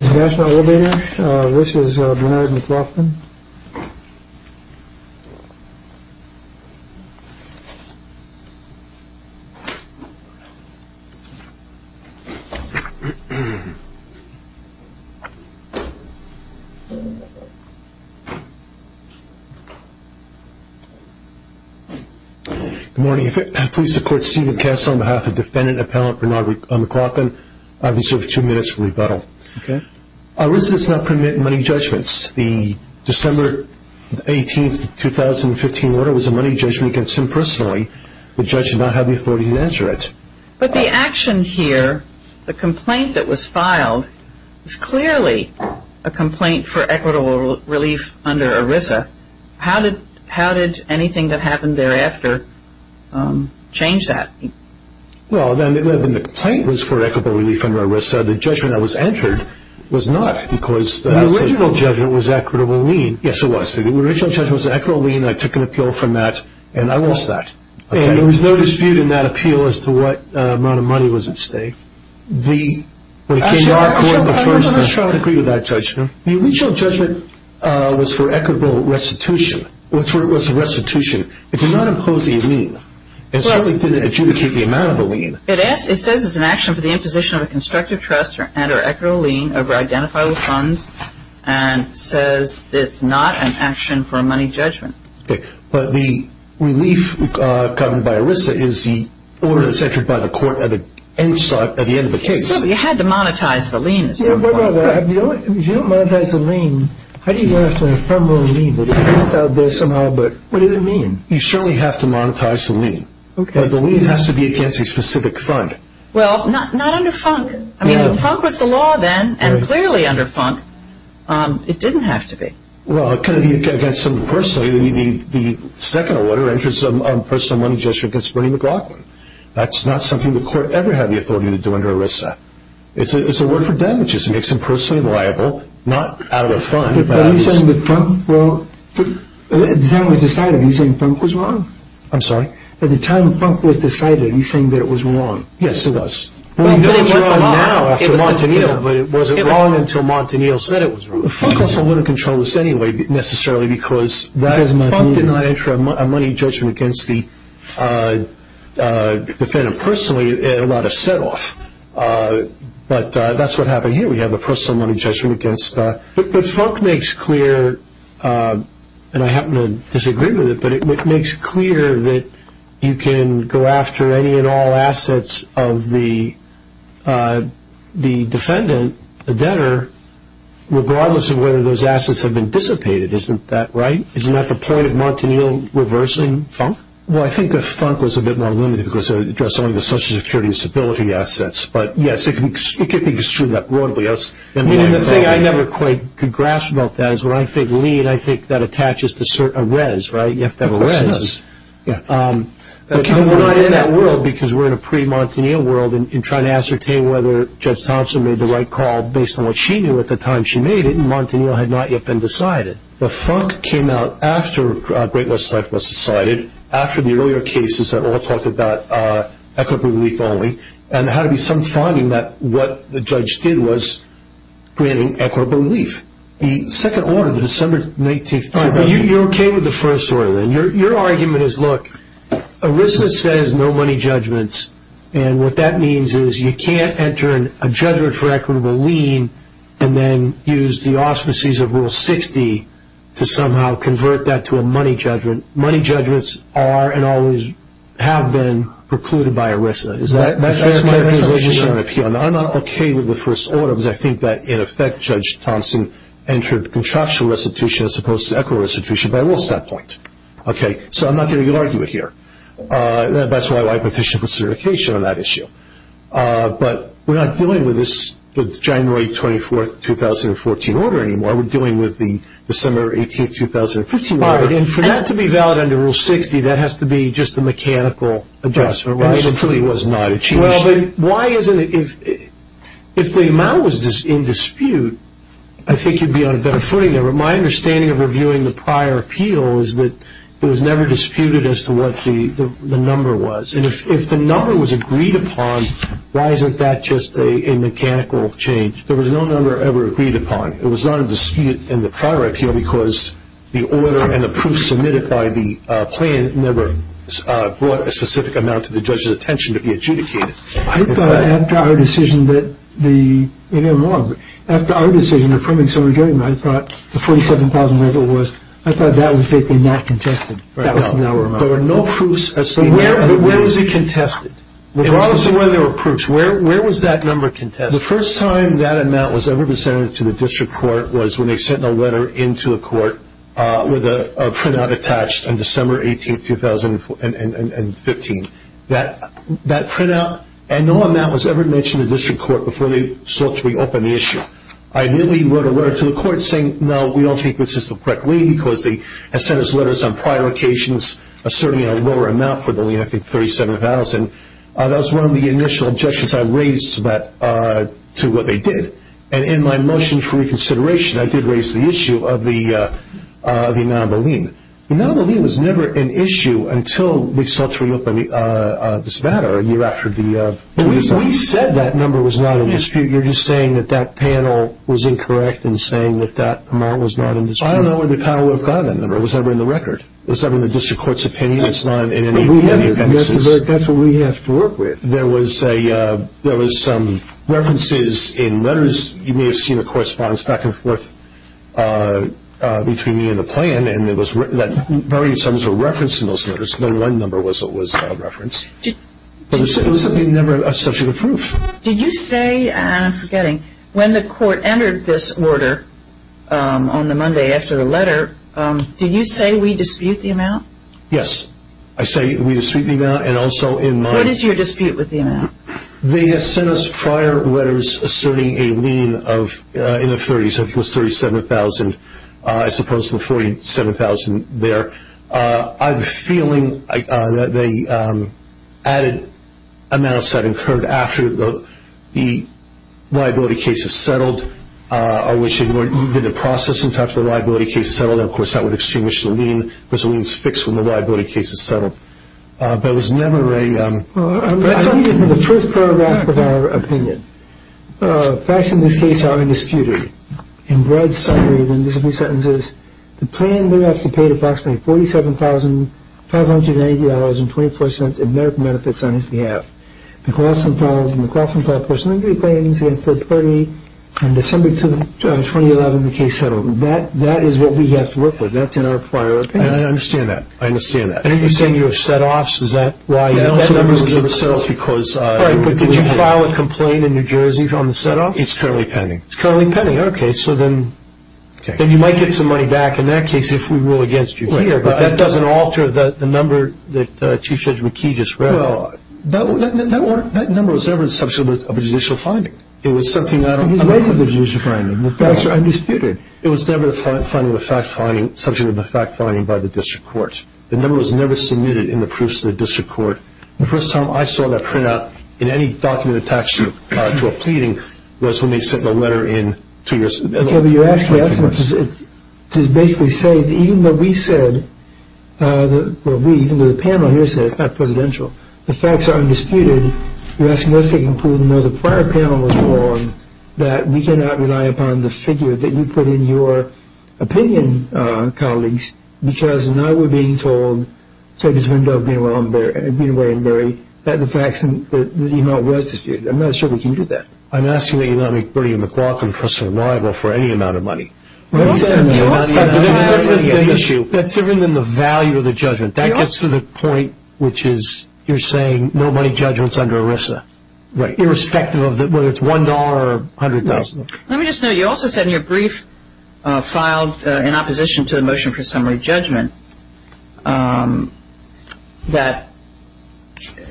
National Elevator. This is Bernard McLaughlin. Good morning. If I could please support Stephen Kessler on behalf of defendant appellant Bernard McLaughlin. I reserve two minutes for rebuttal. Okay. ERISA does not permit money judgments. The December 18, 2015 order was a money judgment against him personally. The judge did not have the authority to answer it. But the action here, the complaint that was filed, is clearly a complaint for equitable relief under ERISA. How did anything that happened thereafter change that? Well, then the complaint was for equitable relief under ERISA. The judgment that was entered was not. The original judgment was equitable lien. Yes, it was. The original judgment was equitable lien. I took an appeal from that, and I lost that. And there was no dispute in that appeal as to what amount of money was at stake? The... I agree with that judgment. The original judgment was for equitable restitution. It was restitution. It did not impose the lien. It certainly didn't adjudicate the amount of the lien. It says it's an action for the imposition of a constructive trust under equitable lien over identifiable funds, and says it's not an action for a money judgment. Okay. But the relief governed by ERISA is the order that's entered by the court at the end of the case. No, but you had to monetize the lien at some point. If you don't monetize the lien, how do you go after a firm loan lien? It's out there somehow, but what does it mean? You certainly have to monetize the lien. Okay. But the lien has to be against a specific fund. Well, not under FUNC. I mean, FUNC was the law then, and clearly under FUNC it didn't have to be. Well, it couldn't be against somebody personally. The second order enters a personal money judgment against Bernie McLaughlin. That's not something the court ever had the authority to do under ERISA. It's a word for damages. It makes him personally liable, not out of a fund. Are you saying that FUNC was wrong? At the time it was decided, are you saying FUNC was wrong? I'm sorry? At the time FUNC was decided, are you saying that it was wrong? Yes, it was. Well, it was wrong now after Montanito, but it wasn't wrong until Montanito said it was wrong. FUNC also wouldn't have controlled this anyway necessarily because FUNC did not enter a money judgment against the defendant personally and allowed a set-off. But that's what happened here. We have a personal money judgment against. But FUNC makes clear, and I happen to disagree with it, but it makes clear that you can go after any and all assets of the defendant, the debtor, regardless of whether those assets have been dissipated. Isn't that right? Isn't that the point of Montanito reversing FUNC? Well, I think that FUNC was a bit more limited because it addressed only the Social Security and stability assets. But, yes, it can be construed that broadly. I mean, the thing I never quite could grasp about that is when I think lien, I think that attaches to a res, right? You have to have a res. Of course it does. But we're not in that world because we're in a pre-Montanito world and trying to ascertain whether Judge Thompson made the right call based on what she knew at the time she made it, and Montanito had not yet been decided. But FUNC came out after Great Western Life was decided, after the earlier cases that all talked about equitable relief only, and there had to be some finding that what the judge did was granting equitable relief. The second order, the December 19th… You're okay with the first order, then? Your argument is, look, ERISA says no money judgments, and what that means is you can't enter a judgment for equitable lien and then use the auspices of Rule 60 to somehow convert that to a money judgment. Money judgments are and always have been precluded by ERISA. That's my position on appeal. I'm not okay with the first order because I think that, in effect, Judge Thompson entered contractual restitution as opposed to equitable restitution by a little step point. Okay? So I'm not going to argue it here. That's why I petition for certification on that issue. But we're not dealing with the January 24th, 2014 order anymore. We're dealing with the December 18th, 2015 order. All right. And for that to be valid under Rule 60, that has to be just a mechanical adjustment, right? It really was not. Well, why isn't it? If the amount was in dispute, I think you'd be on a better footing there. My understanding of reviewing the prior appeal is that it was never disputed as to what the number was. And if the number was agreed upon, why isn't that just a mechanical change? There was no number ever agreed upon. It was not in dispute in the prior appeal because the order and the proof submitted by the plan never brought a specific amount to the judge's attention to be adjudicated. I thought after our decision that the – maybe I'm wrong. After our decision affirming some agreement, I thought the 47,000 rental was – I thought that would be not contested. That was an hour amount. But where was it contested? Regardless of whether there were proofs, where was that number contested? The first time that amount was ever presented to the district court was when they sent a letter into the court with a printout attached on December 18th, 2015. That printout and no amount was ever mentioned to the district court before they sought to reopen the issue. I immediately wrote a letter to the court saying, no, we don't think this is the correct lien because they had sent us letters on prior occasions asserting a lower amount for the lien, I think 37,000. That was one of the initial objections I raised to what they did. And in my motion for reconsideration, I did raise the issue of the amount of a lien. The amount of a lien was never an issue until we sought to reopen this matter a year after the – We said that number was not in dispute. So you're just saying that that panel was incorrect in saying that that amount was not in dispute. I don't know where the panel would have gotten that number. It was never in the record. It was never in the district court's opinion. It's not in any of the appendices. That's what we have to work with. There was some references in letters. You may have seen the correspondence back and forth between me and the plan, and it was written that various items were referenced in those letters, but then one number was referenced. But it was never such a good proof. Did you say, and I'm forgetting, when the court entered this order on the Monday after the letter, did you say we dispute the amount? Yes. I say we dispute the amount, and also in my – What is your dispute with the amount? They have sent us prior letters asserting a lien of, in the 30s, I think it was 37,000, as opposed to the 47,000 there. I have a feeling that they added amounts that occurred after the liability case was settled, or which had moved into process in time for the liability case to settle, and, of course, that would extinguish the lien, because the lien is fixed when the liability case is settled. But it was never a – I believe in the first paragraph of our opinion. Facts in this case are undisputed. In broad summary, then, there's a few sentences. The plaintiff paid approximately $47,580.24 in medical benefits on his behalf. McLaughlin filed a personal injury claim against the party. On December 2, 2011, the case settled. That is what we have to work with. That's in our prior opinion. I understand that. I understand that. And you're saying you have set offs. Is that why that number was never set off? Because – All right, but did you file a complaint in New Jersey on the set offs? It's currently pending. It's currently pending. Okay, so then – Okay. Then you might get some money back in that case if we rule against you here. Right. But that doesn't alter the number that Chief Judge McKee just read. Well, that number was never the subject of a judicial finding. It was something that – It was never the subject of a judicial finding. The facts are undisputed. It was never the subject of a fact finding by the district court. The number was never submitted in the proofs to the district court. The first time I saw that printout in any document attached to a pleading was when they sent the letter in to your – Okay, but you're asking us to basically say that even though we said – well, we, even the panel here said it's not presidential. The facts are undisputed. You're asking us to conclude, even though the prior panel was wrong, that we cannot rely upon the figure that you put in your opinion, colleagues, because now we're being told, take this window of Greenway and Berry, that the facts and the amount was disputed. I'm not sure we can do that. I'm asking that you not make Bernie and McLaughlin for survival for any amount of money. Well, certainly. It's certainly an issue. That's different than the value of the judgment. That gets to the point which is you're saying no money judgments under ERISA. Right. Irrespective of whether it's $1 or $100,000. Let me just note, you also said in your brief filed in opposition to the motion for summary judgment that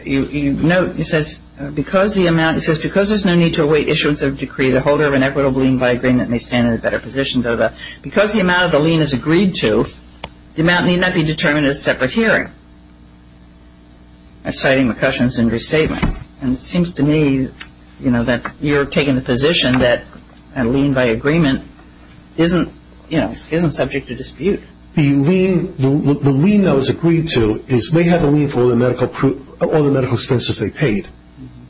you note, it says, because there's no need to await issuance of a decree, the holder of an equitable lien by agreement may stand in a better position. Because the amount of the lien is agreed to, the amount need not be determined at a separate hearing. I'm citing McCushion's injury statement. And it seems to me that you're taking the position that a lien by agreement isn't subject to dispute. The lien that was agreed to is they have a lien for all the medical expenses they paid.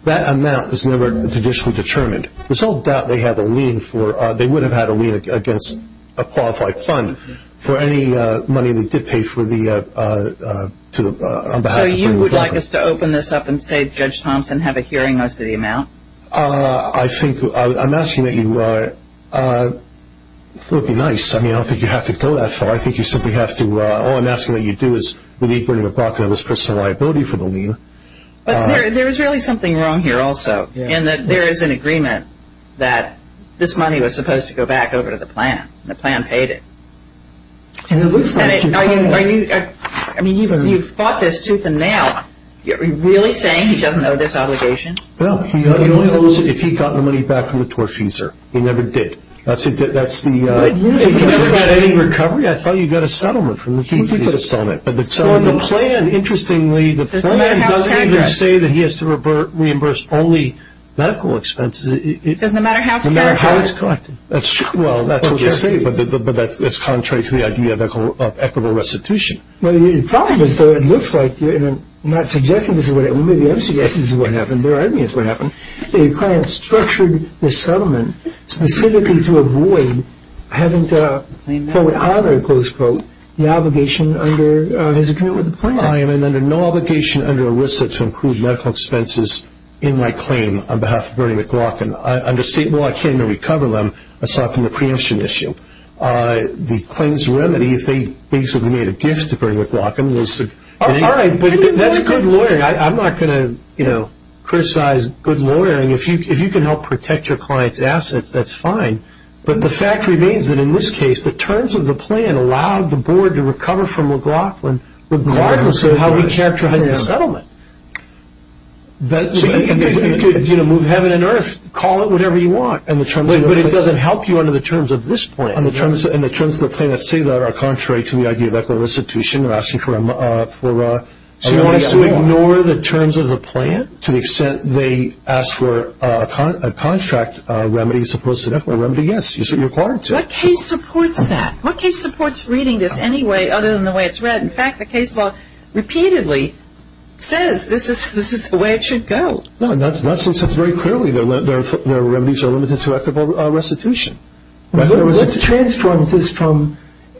That amount is never judicially determined. There's no doubt they have a lien for, they would have had a lien against a qualified fund for any money they did pay for the, on behalf of Bernie and McLaughlin. So you would like us to open this up and say, Judge Thompson, have a hearing as to the amount? I think, I'm asking that you, it would be nice. I mean, I don't think you have to go that far. I think you simply have to, all I'm asking that you do is believe Bernie McLaughlin of his personal liability for the lien. But there is really something wrong here also, in that there is an agreement that this money was supposed to go back over to the plan, and the plan paid it. Are you, I mean, you've fought this tooth and nail. Are you really saying he doesn't owe this obligation? No, he only owes it if he got the money back from the tortfeasor. He never did. That's the I thought you got a settlement from the tortfeasor. So the plan, interestingly, the plan doesn't even say that he has to reimburse only medical expenses. It doesn't matter how it's collected. Well, that's what they say, but that's contrary to the idea of equitable restitution. Well, the problem is, though, it looks like you're not suggesting this is what happened. Maybe I'm suggesting this is what happened. Maybe it's what happened. Your client structured the settlement specifically to avoid having to, quote, honor, close quote, the obligation under his agreement with the plan. I am under no obligation under ERISA to include medical expenses in my claim on behalf of Bernie McLaughlin. Under state law, I can't even recover them, aside from the preemption issue. The claim's remedy, if they basically made a gift to Bernie McLaughlin, was All right, but that's good lawyering. I'm not going to, you know, criticize good lawyering. If you can help protect your client's assets, that's fine. But the fact remains that, in this case, the terms of the plan allowed the board to recover from McLaughlin, regardless of how he characterized the settlement. You could, you know, move heaven and earth, call it whatever you want. But it doesn't help you under the terms of this plan. And the terms of the plan that say that are contrary to the idea of equitable restitution, they're asking for a remedy. So you want us to ignore the terms of the plan? To the extent they ask for a contract remedy as opposed to an equitable remedy, yes, you're required to. What case supports that? What case supports reading this anyway, other than the way it's read? In fact, the case law repeatedly says this is the way it should go. No, not since it's very clearly their remedies are limited to equitable restitution. What transforms this from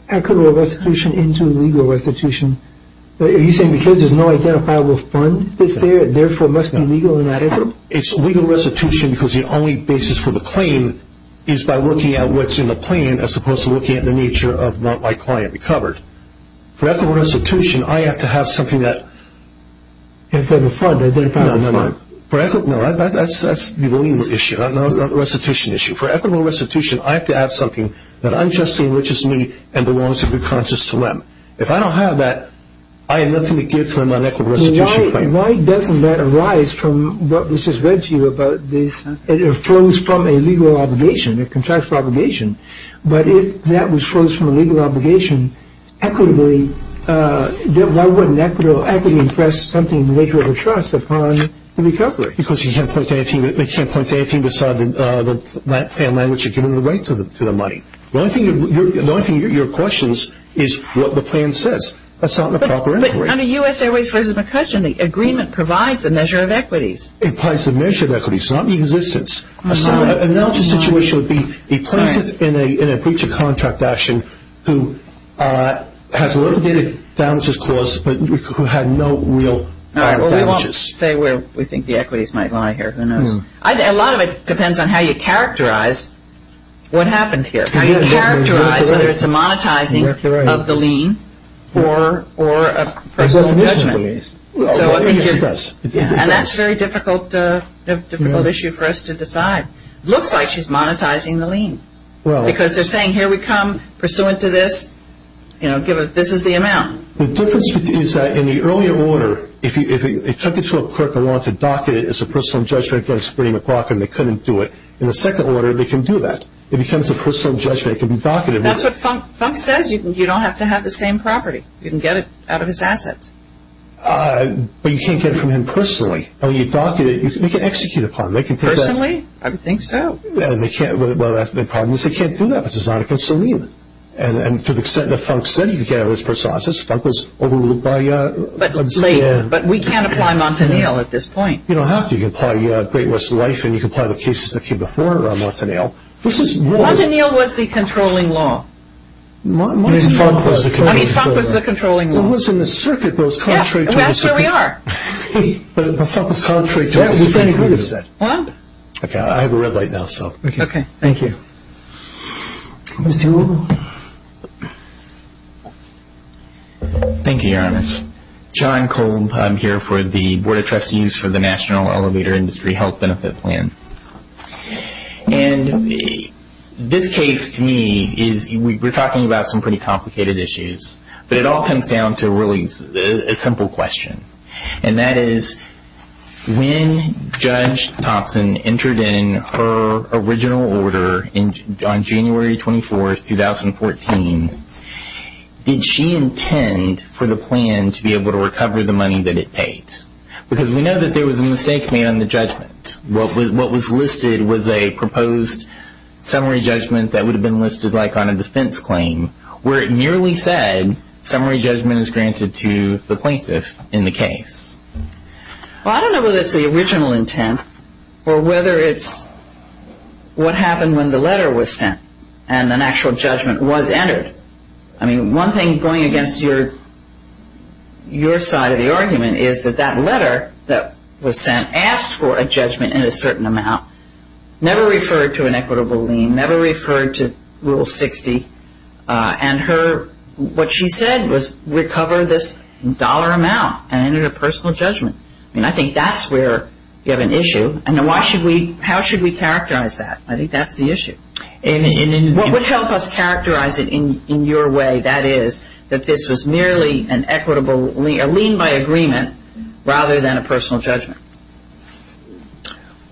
equitable restitution into legal restitution? Are you saying because there's no identifiable fund that's there, it therefore must be legal in that effort? It's legal restitution because the only basis for the claim is by looking at what's in the plan as opposed to looking at the nature of what my client recovered. For equitable restitution, I have to have something that – If there's a fund, an identifiable fund. No, no, no. That's the only issue, not the restitution issue. For equitable restitution, I have to have something that unjustly enriches me and belongs to be conscious to them. If I don't have that, I have nothing to give for an unequitable restitution claim. Why doesn't that arise from what was just read to you about this? It flows from a legal obligation, a contractual obligation. But if that was flows from a legal obligation, why wouldn't equity impress something in the nature of a trust upon the recoverer? Because they can't point to anything beside the plan language or giving the right to the money. The only thing you're questioning is what the plan says. That's not in the proper integration. But under U.S. Airways v. McCutcheon, the agreement provides a measure of equities. It provides a measure of equities, not the existence. A knowledgeable situation would be a plaintiff in a breach of contract action who has a litigated damages clause but who had no real damages. I won't say where we think the equities might lie here. A lot of it depends on how you characterize what happened here, how you characterize whether it's a monetizing of the lien or a personal judgment. Yes, it does. And that's a very difficult issue for us to decide. It looks like she's monetizing the lien because they're saying, here we come, pursuant to this, this is the amount. The difference is that in the earlier order, if they took it to a clerk of law to docket it as a personal judgment against Bernie McLaughlin, they couldn't do it. In the second order, they can do that. It becomes a personal judgment. It can be docketed. That's what Funk says. You don't have to have the same property. You can get it out of his assets. But you can't get it from him personally. When you docket it, they can execute upon it. Personally? I would think so. The problem is they can't do that because it's not a good lien. And to the extent that Funk said he could get it out of his personal assets, Funk was overruled by... But we can't apply Montaniel at this point. You don't have to. You can apply Great West Life and you can apply the cases that came before Montaniel. Montaniel was the controlling law. I mean, Funk was the controlling law. It was in the circuit, but it was contrary to... That's where we are. But Funk was contrary to... What? Okay, I have a red light now, so... Okay. Thank you. Mr. Gould? Thank you, Your Honor. John Gould. I'm here for the Board of Trustees for the National Elevator Industry Health Benefit Plan. And this case to me is... We're talking about some pretty complicated issues. But it all comes down to really a simple question. And that is when Judge Thompson entered in her original order on January 24, 2014, did she intend for the plan to be able to recover the money that it paid? Because we know that there was a mistake made on the judgment. What was listed was a proposed summary judgment that would have been listed like on a defense claim where it merely said summary judgment is granted to the plaintiff in the case. Well, I don't know whether it's the original intent or whether it's what happened when the letter was sent and an actual judgment was entered. I mean, one thing going against your side of the argument is that that letter that was sent asked for a judgment in a certain amount, never referred to an equitable lien, never referred to Rule 60. And what she said was recover this dollar amount and enter a personal judgment. I mean, I think that's where you have an issue. And how should we characterize that? I think that's the issue. What would help us characterize it in your way, that is, that this was merely a lien by agreement rather than a personal judgment?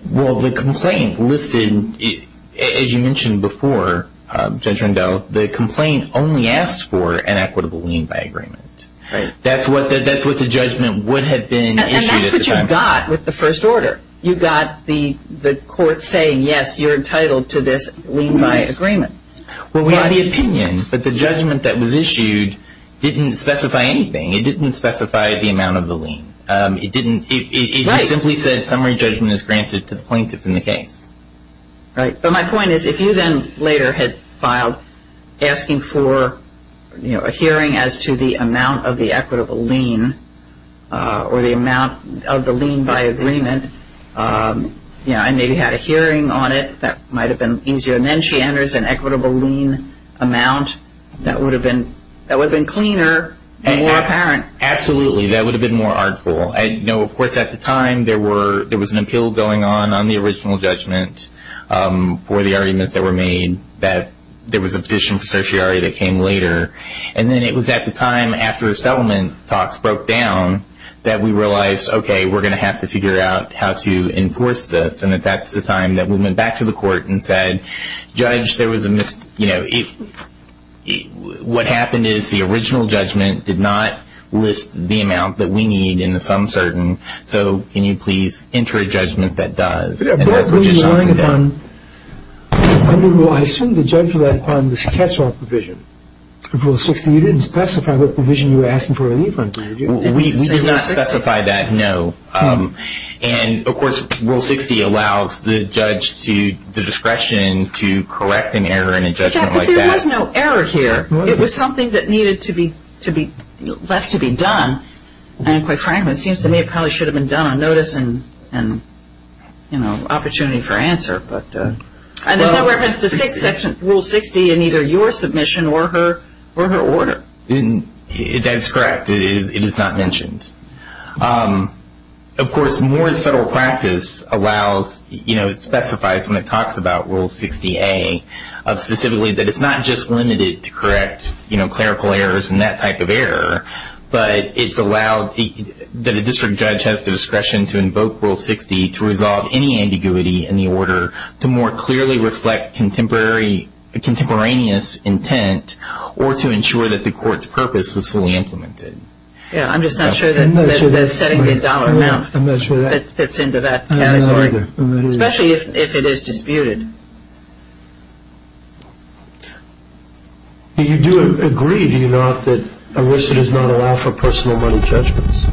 Well, the complaint listed, as you mentioned before, Judge Rendell, the complaint only asked for an equitable lien by agreement. That's what the judgment would have been issued at the time. And that's what you got with the first order. You got the court saying, yes, you're entitled to this lien by agreement. Well, we had the opinion, but the judgment that was issued didn't specify anything. It didn't specify the amount of the lien. It simply said summary judgment is granted to the plaintiff in the case. Right. But my point is if you then later had filed asking for a hearing as to the amount of the equitable lien or the amount of the lien by agreement and maybe had a hearing on it, that might have been easier. And then she enters an equitable lien amount, that would have been cleaner and more apparent. Absolutely. That would have been more artful. Of course, at the time, there was an appeal going on on the original judgment for the arguments that were made. There was a petition for certiorari that came later. And then it was at the time after settlement talks broke down that we realized, okay, we're going to have to figure out how to enforce this. And that's the time that we went back to the court and said, Judge, there was a mis- What happened is the original judgment did not list the amount that we need in the sum certain, so can you please enter a judgment that does. I assume the judge relied upon the catch-all provision. Rule 60, you didn't specify what provision you were asking for a lien from. We did not specify that, no. And, of course, Rule 60 allows the judge to the discretion to correct an error in a judgment like that. But there was no error here. It was something that needed to be left to be done. And quite frankly, it seems to me it probably should have been done on notice and opportunity for answer. And there's no reference to Rule 60 in either your submission or her order. That's correct. It is not mentioned. Of course, Moore's federal practice allows, you know, specifies when it talks about Rule 60A specifically that it's not just limited to correct, you know, clerical errors and that type of error, but it's allowed that a district judge has the discretion to invoke Rule 60 to resolve any ambiguity in the order to more clearly reflect contemporaneous intent or to ensure that the court's purpose was fully implemented. Yeah, I'm just not sure that the $70 amount fits into that category, especially if it is disputed. Do you agree, do you not, that ERISA does not allow for personal money judgments?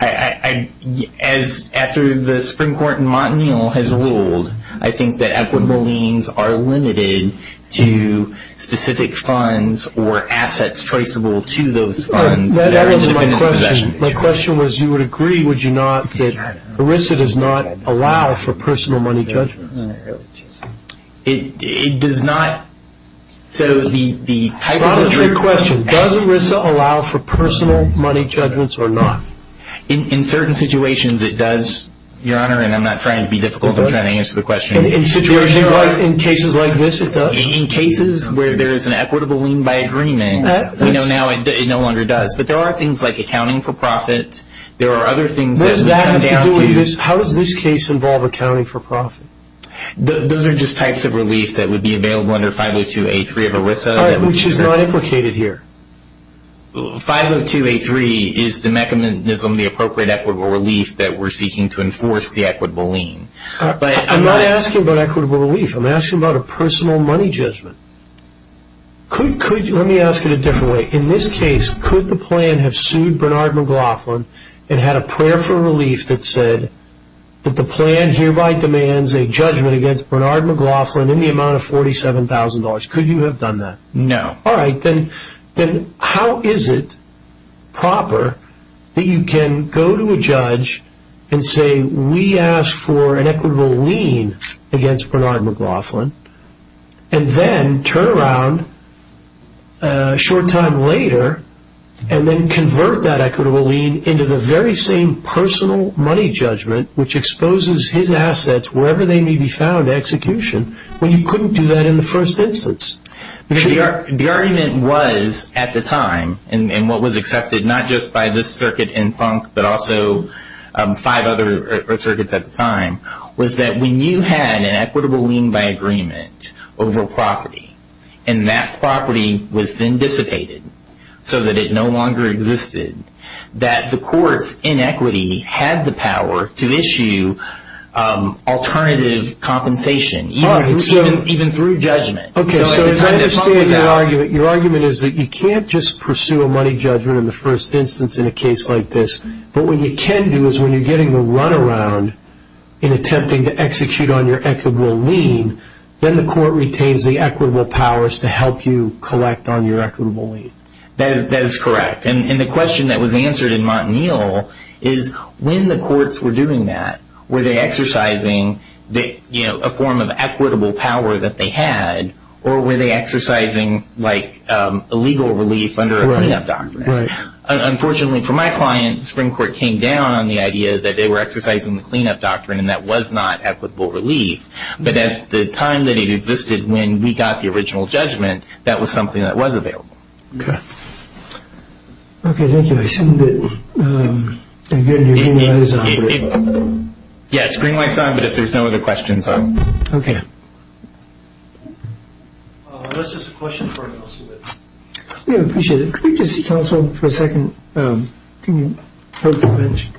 As after the Supreme Court in Montanil has ruled, I think that equitable liens are limited to specific funds or assets traceable to those funds. My question was you would agree, would you not, that ERISA does not allow for personal money judgments? It does not. It's not a trick question. Does ERISA allow for personal money judgments or not? In certain situations, it does, Your Honor, and I'm not trying to be difficult. I'm trying to answer the question. In situations like, in cases like this, it does? In cases where there is an equitable lien by agreement, you know, now it no longer does. But there are things like accounting for profit. There are other things. What does that have to do with this? How does this case involve accounting for profit? Those are just types of relief that would be available under 50283 of ERISA. Which is not implicated here. 50283 is the mechanism, the appropriate equitable relief that we're seeking to enforce the equitable lien. I'm not asking about equitable relief. I'm asking about a personal money judgment. Let me ask it a different way. In this case, could the plan have sued Bernard McLaughlin and had a prayer for relief that said that the plan hereby demands a judgment against Bernard McLaughlin in the amount of $47,000? Could you have done that? No. All right. Then how is it proper that you can go to a judge and say, we ask for an equitable lien against Bernard McLaughlin, and then turn around a short time later and then convert that equitable lien into the very same personal money judgment, which exposes his assets wherever they may be found to execution, when you couldn't do that in the first instance? The argument was at the time, and what was accepted not just by this circuit in Funk, but also five other circuits at the time, was that when you had an equitable lien by agreement over property, and that property was then dissipated so that it no longer existed, that the court's inequity had the power to issue alternative compensation, even through judgment. Okay. So as I understand your argument, your argument is that you can't just pursue a money judgment in the first instance in a case like this, but what you can do is when you're getting the runaround in attempting to execute on your equitable lien, then the court retains the equitable powers to help you collect on your equitable lien. That is correct. And the question that was answered in Montanil is when the courts were doing that, were they exercising a form of equitable power that they had, or were they exercising a legal relief under a clean-up doctrine? Right. Unfortunately for my client, the Supreme Court came down on the idea that they were exercising the clean-up doctrine, and that was not equitable relief. But at the time that it existed when we got the original judgment, that was something that was available. Okay. Okay, thank you. I assume that you're getting your green lights on. Yeah, it's green lights on, but if there's no other questions, I'm good. Okay. Unless there's a question for anyone else. Yeah, I appreciate it. Could we just see counsel for a second? Can you help me finish?